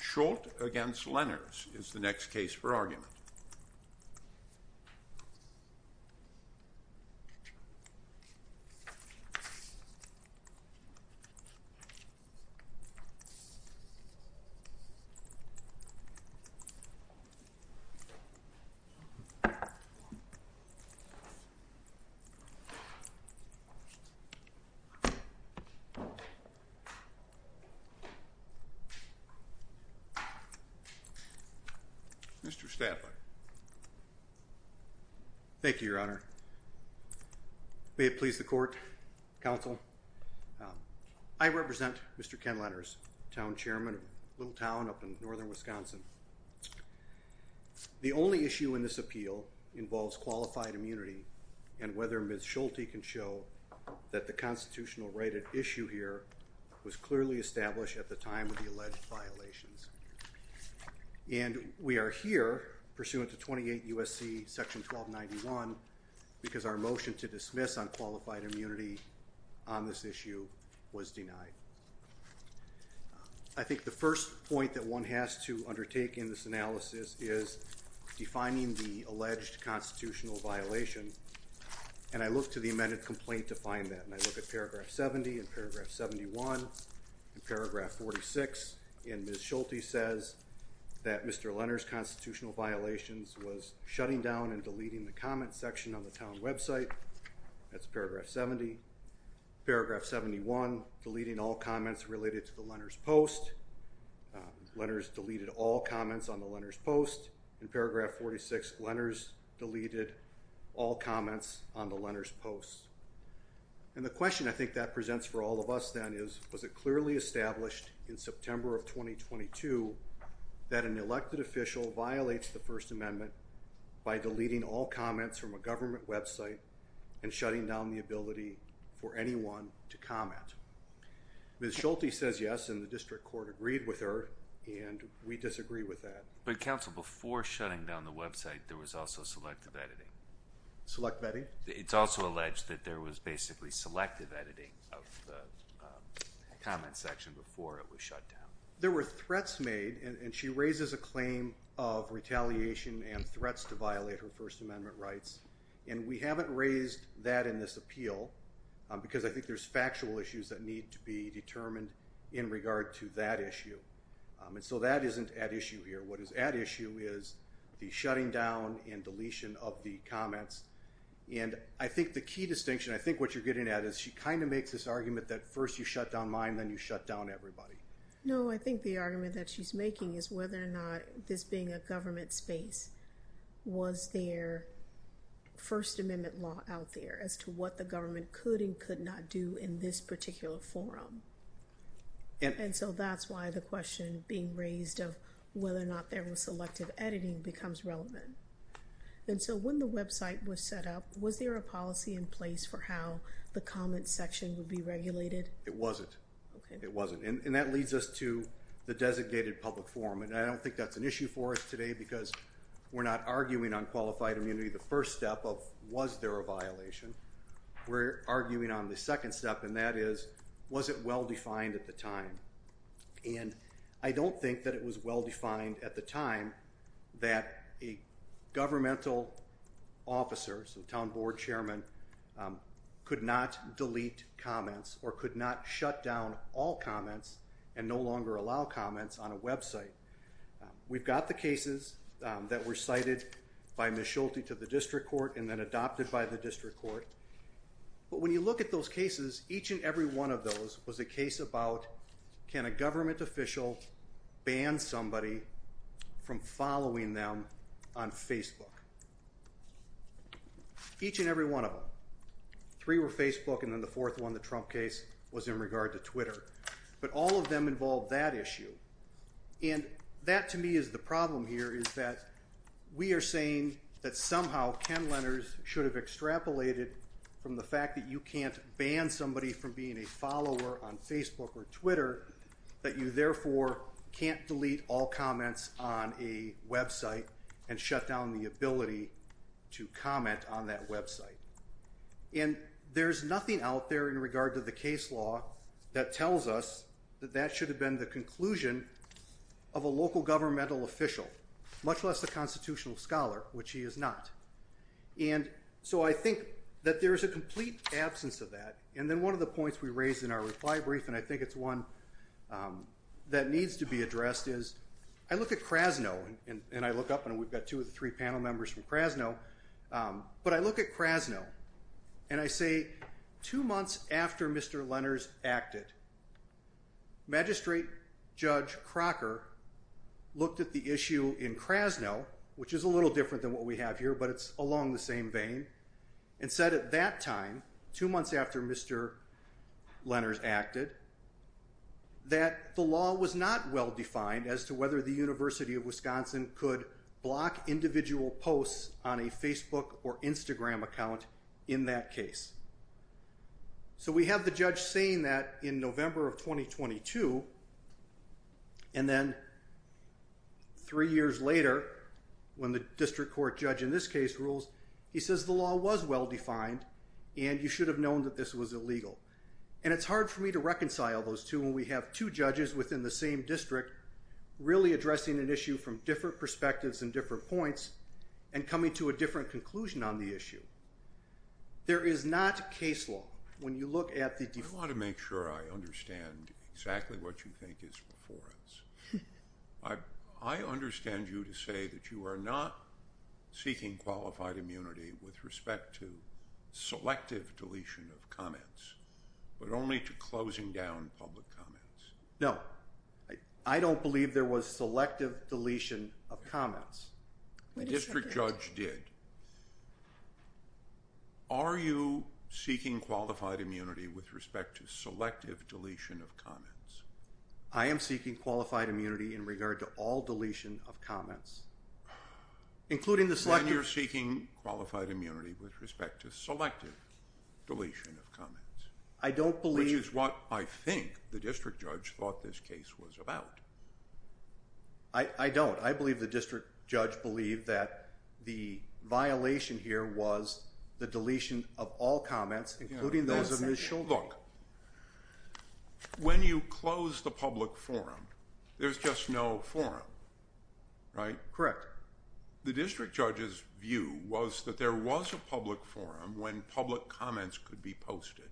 Schulte v. Leners is the next case for argument. Mr. Stafford. Thank you, Your Honor. May it please the court, counsel. I represent Mr. Ken Leners, town chairman of Little Town up in northern Wisconsin. The only issue in this appeal involves qualified immunity and whether Ms. Schulte can show that the constitutional right at issue here was clearly established at the time of the alleged violations. And we are here pursuant to 28 U.S.C. section 1291 because our motion to dismiss on qualified immunity on this issue was denied. I think the first point that one has to undertake in this analysis is defining the alleged constitutional violation and I look to the amended complaint to find that and I look at paragraph 70 and paragraph 71 and paragraph 46 and Ms. Schulte says that Mr. Leners' constitutional violations was shutting down and deleting the comment section on the town website. That's paragraph 70. Paragraph 71, deleting all comments related to the Leners' post. Leners deleted all comments on the Leners' post. In paragraph 46, Leners deleted all comments on the Leners' post. And the question I think that presents for all of us then is was it clearly established in September of 2022 that an elected official violates the First Amendment by deleting all comments from a government website and shutting down the ability for anyone to comment. Ms. Schulte says yes and the district court agreed with her and we disagree with that. But counsel before shutting down the website there was also selective editing. Select vetting? It's also alleged that there was basically selective editing of the comment section before it was shut down. There were threats made and she raises a claim of retaliation and threats to violate her First Amendment rights and we haven't raised that in this appeal because I think there's factual issues that need to be determined in regard to that issue and so that isn't at issue here. What is at issue is the shutting down and deletion of the comments and I think the key to distinction I think what you're getting at is she kind of makes this argument that first you shut down mine then you shut down everybody. No I think the argument that she's making is whether or not this being a government space was their First Amendment law out there as to what the government could and could not do in this particular forum. And so that's why the question being raised of whether or not there was selective editing becomes relevant. And so when the website was set up was there a policy in place for how the comment section would be regulated? It wasn't. It wasn't. And that leads us to the designated public forum and I don't think that's an issue for us today because we're not arguing on qualified immunity the first step of was there a violation. We're arguing on the second step and that is was it well-defined at the time? And I don't think that it was well-defined at the time that a governmental officers and town board chairman could not delete comments or could not shut down all comments and no longer allow comments on a website. We've got the cases that were cited by Ms. Schulte to the district court and then adopted by the district court but when you look at those cases each and every one of those was a case about can a government official ban somebody from following them on Facebook? Each and every one of them. Three were Facebook and then the fourth one the Trump case was in regard to Twitter. But all of them involved that issue and that to me is the problem here is that we are saying that somehow Ken Lenners should have extrapolated from the fact that you can't ban somebody from being a follower on Facebook or Twitter that you therefore can't delete all comments on a website and shut down the ability to comment on that website. And there's nothing out there in regard to the case law that tells us that that should have been the conclusion of a local governmental official much less the constitutional scholar which he is not. And so I think that there is a complete absence of that and then one of the points we raised in our reply brief and I think it's one that needs to be addressed is I look at Krasno and I look up and we've got two of the three panel members from Krasno but I look at Krasno and I say two months after Mr. Lenners acted Magistrate Judge Crocker looked at the issue in Krasno which is a little different than what we have here but it's along the same vein and said at that time two months after Mr. Lenners acted that the law was not well defined as to whether the University of Wisconsin could block individual posts on a Facebook or Instagram account in that case. So we have the judge saying that in November of 2022 and then three years later when the district court judge in this case rules he says the law was well defined and you should have known that this was illegal and it's hard for me to reconcile those two when we have two judges within the same district really addressing an issue from different perspectives and different points and coming to a different conclusion on the issue. There is not case law when you look at the... I want to make sure I understand exactly what you think is before us. I understand you to say that you are not seeking qualified immunity with respect to selective deletion of comments but only to closing down public comments. No, I don't believe there was selective deletion of comments. The district judge did. Are you seeking qualified immunity with respect to selective deletion of comments? I am seeking qualified immunity in regard to all deletion of comments including the... You're seeking qualified immunity with respect to selective deletion of comments. I don't believe... Which is what I think the district judge thought this case was about. I don't. I believe the district judge believed that the violation here was the deletion of all comments including those of Ms. Shulman. Look, when you close the public forum there's just no forum, right? Correct. The district judge's view was that there was a public forum when public comments could be posted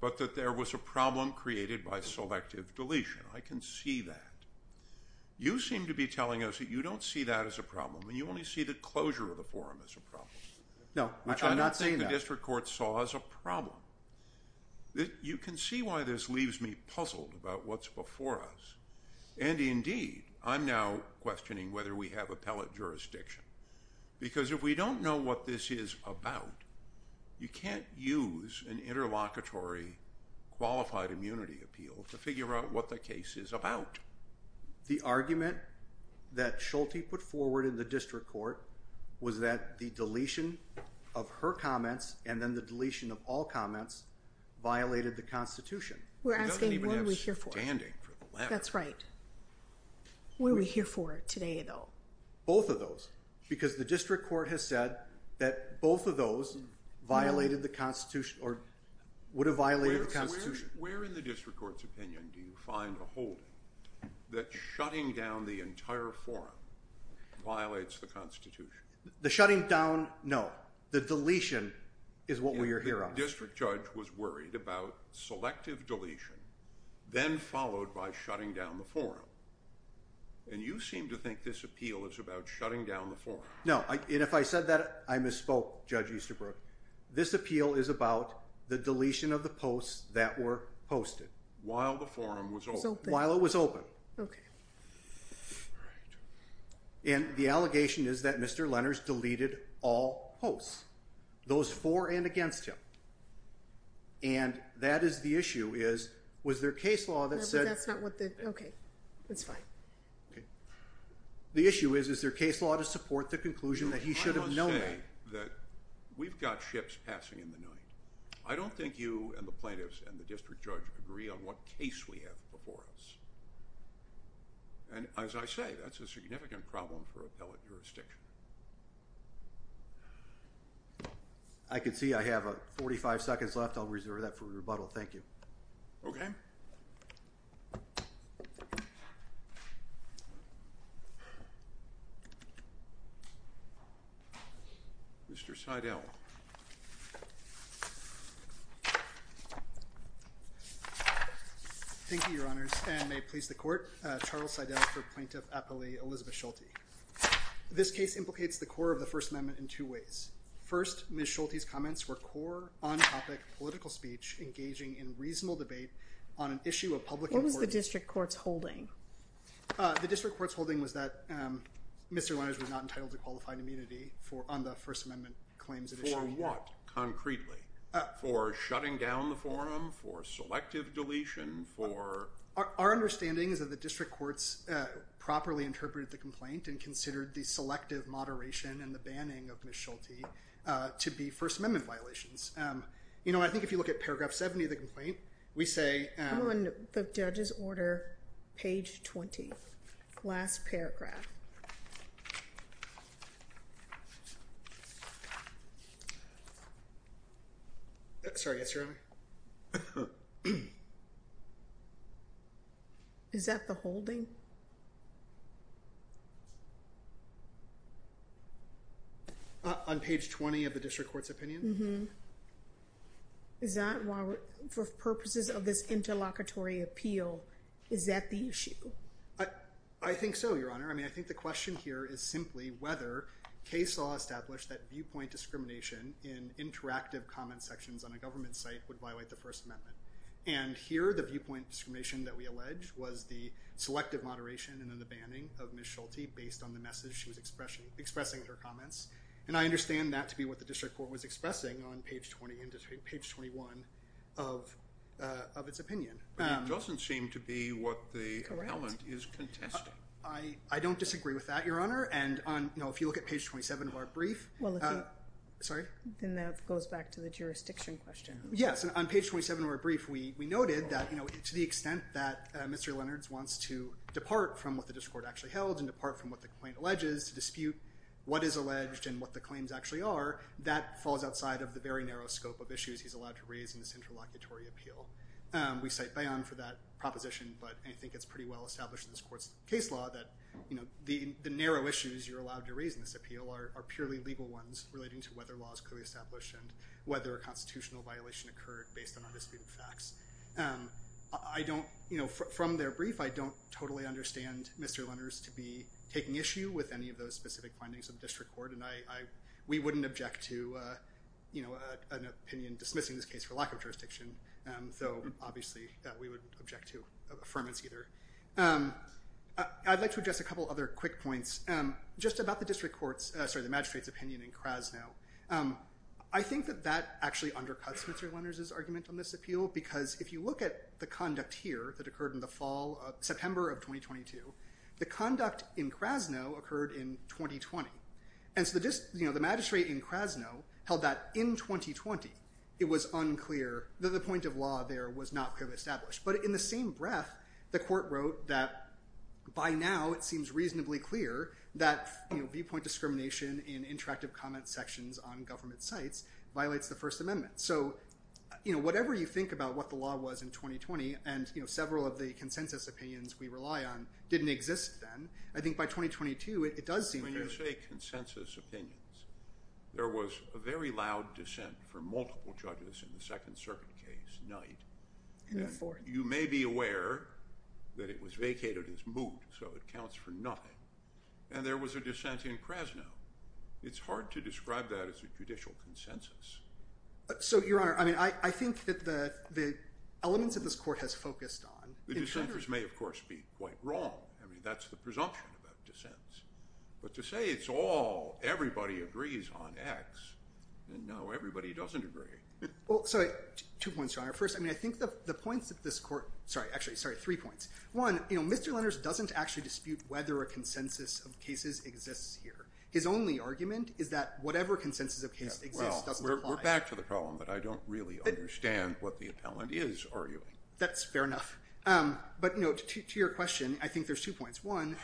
but that there was a problem created by selective deletion. I can see that. You seem to be telling us that you don't see that as a problem and you only see the closure of the forum as a problem. No, I'm saying the district court saw as a problem. You can see why this leaves me puzzled about what's before us and indeed I'm now questioning whether we have appellate jurisdiction because if we don't know what this is about you can't use an interlocutory qualified immunity appeal to figure out what the case is about. The argument that Schulte put forward in the district court was that the deletion of her comments and then the deletion of all comments violated the Constitution. We're asking what are we here for? That's right. What are we here for today though? Both of those because the district court has said that both of those violated the Constitution or would have violated the Constitution. Where in the district court's opinion do you find a that shutting down the entire forum violates the Constitution? The shutting down? No, the deletion is what we're here on. The district judge was worried about selective deletion then followed by shutting down the forum and you seem to think this appeal is about shutting down the forum. No, and if I said that I misspoke Judge Easterbrook. This appeal is about the deletion of the posts that were posted. While the forum was open? While it was open. And the allegation is that Mr. Lenners deleted all posts. Those for and against him. And that is the issue is was there case law that said. Okay, that's fine. The issue is is there case law to support the conclusion that he should have known that. We've got ships passing in the night. I don't think you and the plaintiffs and the district judge agree on what case we have before us and as I say that's a significant problem for appellate jurisdiction. I can see I have a 45 seconds left. I'll reserve that for rebuttal. Thank you. Okay. Mr. Seidel. Thank you, Your Honors, and may it please the court. Charles Seidel for plaintiff appellee Elizabeth Schulte. This case implicates the core of the First Amendment in two ways. First, Ms. Schulte's comments were core on-topic political speech engaging in reasonable debate on an issue of public importance. What was the district courts holding? The district courts holding was that Mr. Lenners was not entitled to qualified immunity for on the First Amendment claims. For what concretely? For shutting down the forum? For selective deletion? For our understanding is that the district courts properly interpreted the complaint and considered the selective moderation and the banning of Ms. Schulte to be First Amendment violations. You know I think if you look at paragraph 70 of the complaint we say... I'm on the judge's order, page 20, last paragraph. Sorry, yes, Your Honor. Is that the holding? On page 20 of the district court's opinion? Mm-hmm. Is that why, for purposes of this interlocutory appeal, is that the issue? I think so, Your Honor. I mean I think the question here is simply whether case law established that viewpoint discrimination in interactive comment sections on a government site would violate the First Amendment and here the viewpoint discrimination that we allege was the selective moderation and then the banning of Ms. Schulte based on the message she was expressing in her comments and I understand that to be what the district court was expressing on page 20 into page 21 of of its opinion. It doesn't seem to be what the appellant is contesting. I don't disagree with that, Your Honor, and on, you know, if you look at page 27 of our brief, well, sorry, then that goes back to the jurisdiction question. Yes, on page 27 of our brief, we noted that, you know, to the extent that Mr. Leonards wants to depart from what the district court actually held and depart from what the complaint alleges to dispute what is alleged and what the claims actually are, that falls outside of the very narrow scope of issues he's allowed to raise in this interlocutory appeal. We cite Bayon for that proposition, but I think it's pretty well established in this court's case law that, you know, the narrow issues you're allowed to raise in this appeal are purely legal ones relating to whether law is clearly established and whether a constitutional violation occurred based on undisputed facts. I don't, you know, from their brief, I don't totally understand Mr. Leonards to be taking issue with any of those specific findings of district court, and I, we wouldn't object to, you know, an opinion dismissing this case for lack of jurisdiction, though obviously we would object to affirmance either. I'd like to address a couple other quick points. Just about the district court's, sorry, the magistrate's opinion in Krasno. I think that that actually undercuts Mr. Leonards' argument on this appeal, because if you look at the conduct here that occurred in the fall of September of 2022, the conduct in Krasno occurred in 2020, and so the district, you know, the magistrate in Krasno held that in 2020 it was unclear that the point of law there was not clearly established, but in the same breath the court wrote that by now it seems reasonably clear that, you know, viewpoint discrimination in interactive comment sections on government sites violates the First Amendment. So, you know, whatever you think about what the law was in 2020, and, you know, several of the consensus opinions we rely on didn't exist then, I think by 2022 it does seem clear. When you say consensus opinions, there was a very loud dissent for multiple judges in the Second Circuit case, Knight, and you may be aware that it was vacated as moot, so it counts for nothing, and there was a dissent in Krasno. It's hard to describe that as a judicial consensus. So, Your Honor, I mean, I think that the elements of this court has focused on... The dissenters may, of course, be quite wrong. I mean, that's the presumption about dissents, but to say it's all everybody agrees on X, and no, everybody doesn't agree. Well, sorry, two points, Your Honor. First, I mean, I think that the points that this court, sorry, actually, sorry, three points. One, you know, Mr. Leonards doesn't actually dispute whether a consensus of cases exists here. His only argument is that whatever consensus of cases exists doesn't apply. Well, we're back to the problem, but I don't really understand what the appellant is arguing. That's fair enough, but, you know, to your question, I think there's two points. One,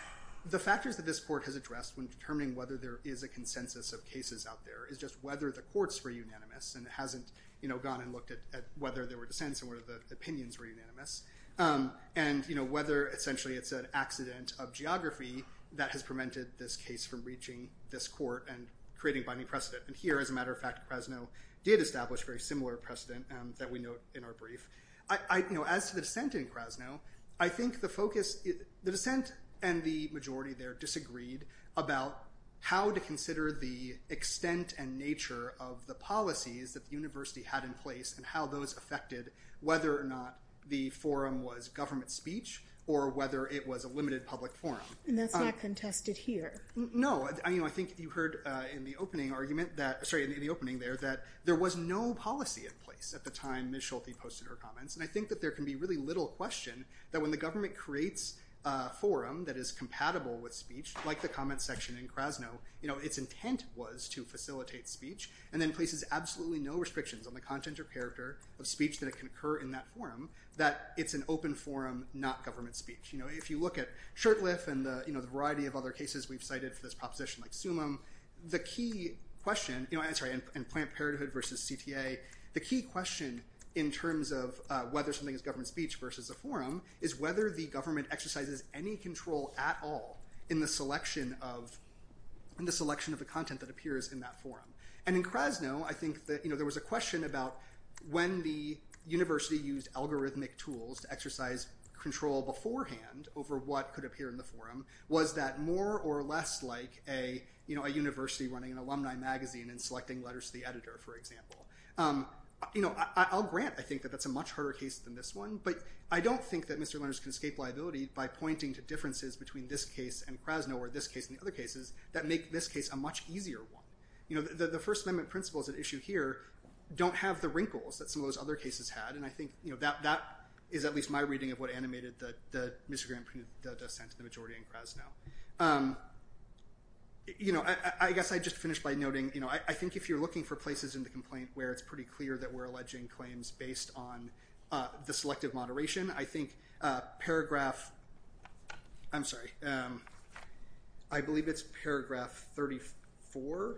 the factors that this court has addressed when determining whether there is a consensus of cases out there is just whether the courts were unanimous, and it hasn't, you know, gone and looked at whether there were dissents and whether the opinions were unanimous, and, you know, whether essentially it's an accident of geography that has prevented this case from reaching this court and creating binding precedent. And here, as a matter of fact, Krasno did establish a very similar precedent that we note in our brief. I, you know, as to the dissent in Krasno, I think the focus, the dissent and the majority there disagreed about how to consider the extent and nature of the policies that the university had in place and how those affected whether or not the forum was government speech or whether it was a limited public forum. And that's not contested here. No. I mean, I think you heard in the opening argument that, sorry, in the opening there, that there was no policy in place at the time Ms. Schulte posted her comments, and I think that there can be really little question that when the government creates a forum that is compatible with speech, like the comments section in Krasno, you know, its intent was to facilitate speech and then places absolutely no restrictions on the content or character of speech that can occur in that forum, that it's an open forum, not government speech. You know, if you look at Shurtleff and, you know, the variety of other cases we've cited for this proposition, like Summum, the key question, you know, I'm sorry, in Planned Parenthood versus CTA, the key question in terms of whether something is government speech versus a forum is whether the government exercises any control at all in the selection of the content that appears in that forum. And in Krasno, I think that, you know, there was a question about when the university used algorithmic tools to exercise control beforehand over what could appear in the forum, was that more or less like a, you know, a university running an alumni magazine and selecting letters to the editor, for example. You know, I'll grant, I think, that that's a much harder case than this one, but I don't think that Mr. Lenders can escape liability by pointing to differences between this case and Krasno or this case and the other cases that make this case a much easier one. You know, the First Amendment principles at issue here don't have the wrinkles that some of those other cases had, and I think, you know, that is at least my reading of what animated the disagreement between the dissent and the majority in Krasno. You know, I guess I'd just finish by noting, you know, I think if you're looking for places in the complaint where it's pretty clear that we're alleging claims based on the selective moderation, I think paragraph, I'm sorry, I believe it's paragraph 34,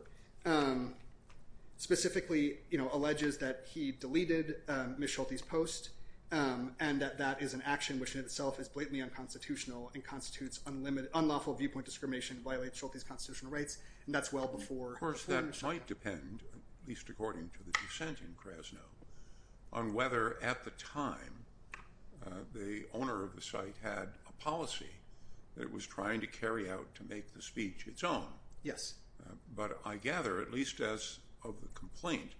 specifically, you know, alleges that he deleted Ms. Schulte's post and that that is an action which in itself is blatantly unconstitutional and constitutes unlimited, unlawful viewpoint discrimination and violates Schulte's constitutional rights, and that's well before- Well, it might depend, at least according to the dissent in Krasno, on whether at the time the owner of the site had a policy that it was trying to carry out to make the speech its own. Yes. But I gather, at least as of the complaint,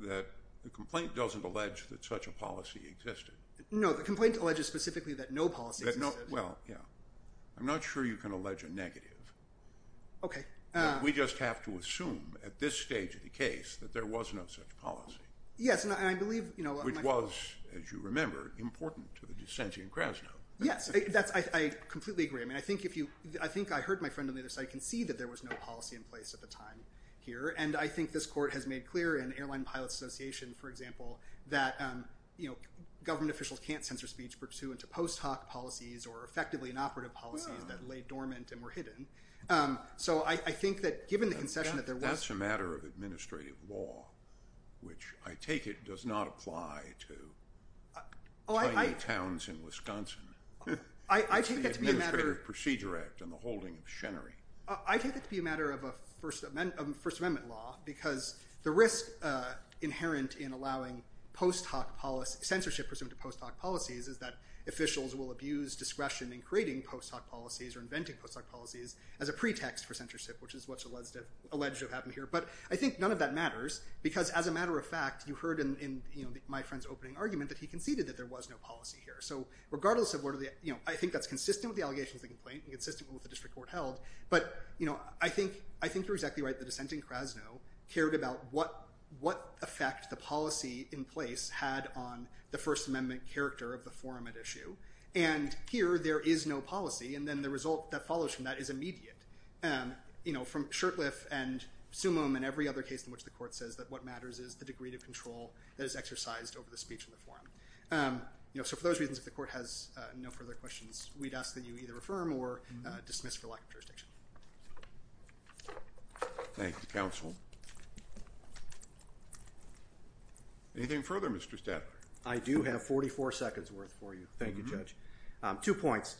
that the complaint doesn't allege that such a policy existed. No, the complaint alleges specifically that no policy existed. Well, yeah. I'm not sure you can allege a negative. Okay. We just have to assume, at this stage of the case, that there was no such policy. Yes, and I believe- Which was, as you remember, important to the dissent in Krasno. Yes, I completely agree. I mean, I think I heard my friend on the other side concede that there was no policy in place at the time here, and I think this court has made clear in Airline Pilots Association, for example, that government officials can't censor speech pursuant to post-hoc policies or effectively inoperative policies that lay dormant and or hidden. So I think that given the concession that there was- That's a matter of administrative law, which I take it does not apply to tiny towns in I take that to be a matter- It's the Administrative Procedure Act and the holding of Chenery. I take it to be a matter of a First Amendment law, because the risk inherent in allowing post-hoc policy, censorship pursuant to post-hoc policies, is that officials will abuse discretion in creating post-hoc policies or inventing post-hoc policies as a pretext for censorship, which is what's alleged to have happened here. But I think none of that matters, because as a matter of fact, you heard in my friend's opening argument that he conceded that there was no policy here. So regardless of whether- I think that's consistent with the allegations of the complaint and consistent with what the district court held, but I think you're exactly right. The dissent in Krasno cared about what effect the policy in place had on the First Amendment character of the forum at issue. And here, there is no policy, and then the result that follows from that is immediate. From Shurtleff and Sumum and every other case in which the court says that what matters is the degree to control that is exercised over the speech in the forum. So for those reasons, if the court has no further questions, we'd ask that you either refer him or dismiss for lack of jurisdiction. Thank you, Counsel. Anything further, Mr. Stafford? I do have 44 seconds worth for you. Thank you, Judge. Two points.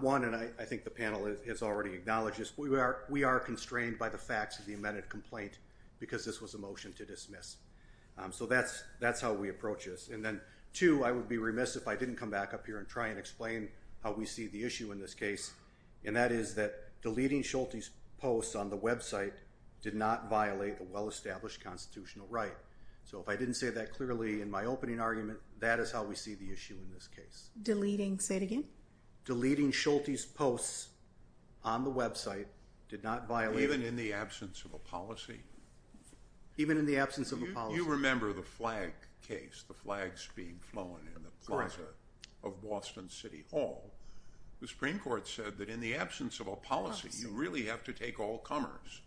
One, and I think the panel has already acknowledged this, we are constrained by the facts of the amended complaint because this was a motion to dismiss. So that's how we approach this. And then two, I would be remiss if I didn't come back up here and try and explain how we see the issue in this case, and that is that deleting Schulte's posts on the website did not violate the well-established constitutional right. So if I didn't say that clearly in my opening argument, that is how we see the issue in this case. Deleting, say it again? Deleting Schulte's posts on the website did not violate... Even in the absence of a policy? Even in the absence of a policy. You remember the flag case, the flags being flown in the plaza of Boston City Hall. The Supreme Court said that in the absence of a policy, you really have to take all comers.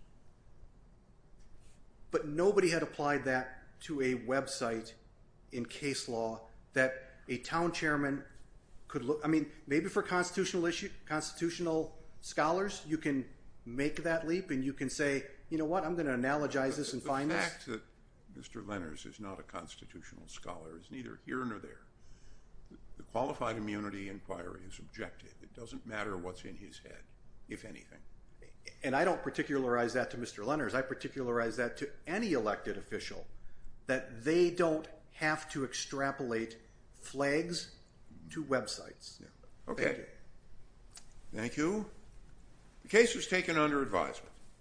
But nobody had applied that to a website in case law that a town chairman could look... I mean, maybe for constitutional scholars, you can make that leap and you can say, you know what, I'm going to analogize this and find this. The fact that Mr. Lenners is not a constitutional scholar is neither here nor there. The qualified immunity inquiry is objective. It doesn't matter what's in his head, if anything. And I don't particularize that to Mr. Lenners. I particularize that to any elected official, that they don't have to extrapolate flags to websites. Okay. Thank you. The case was taken under advisement.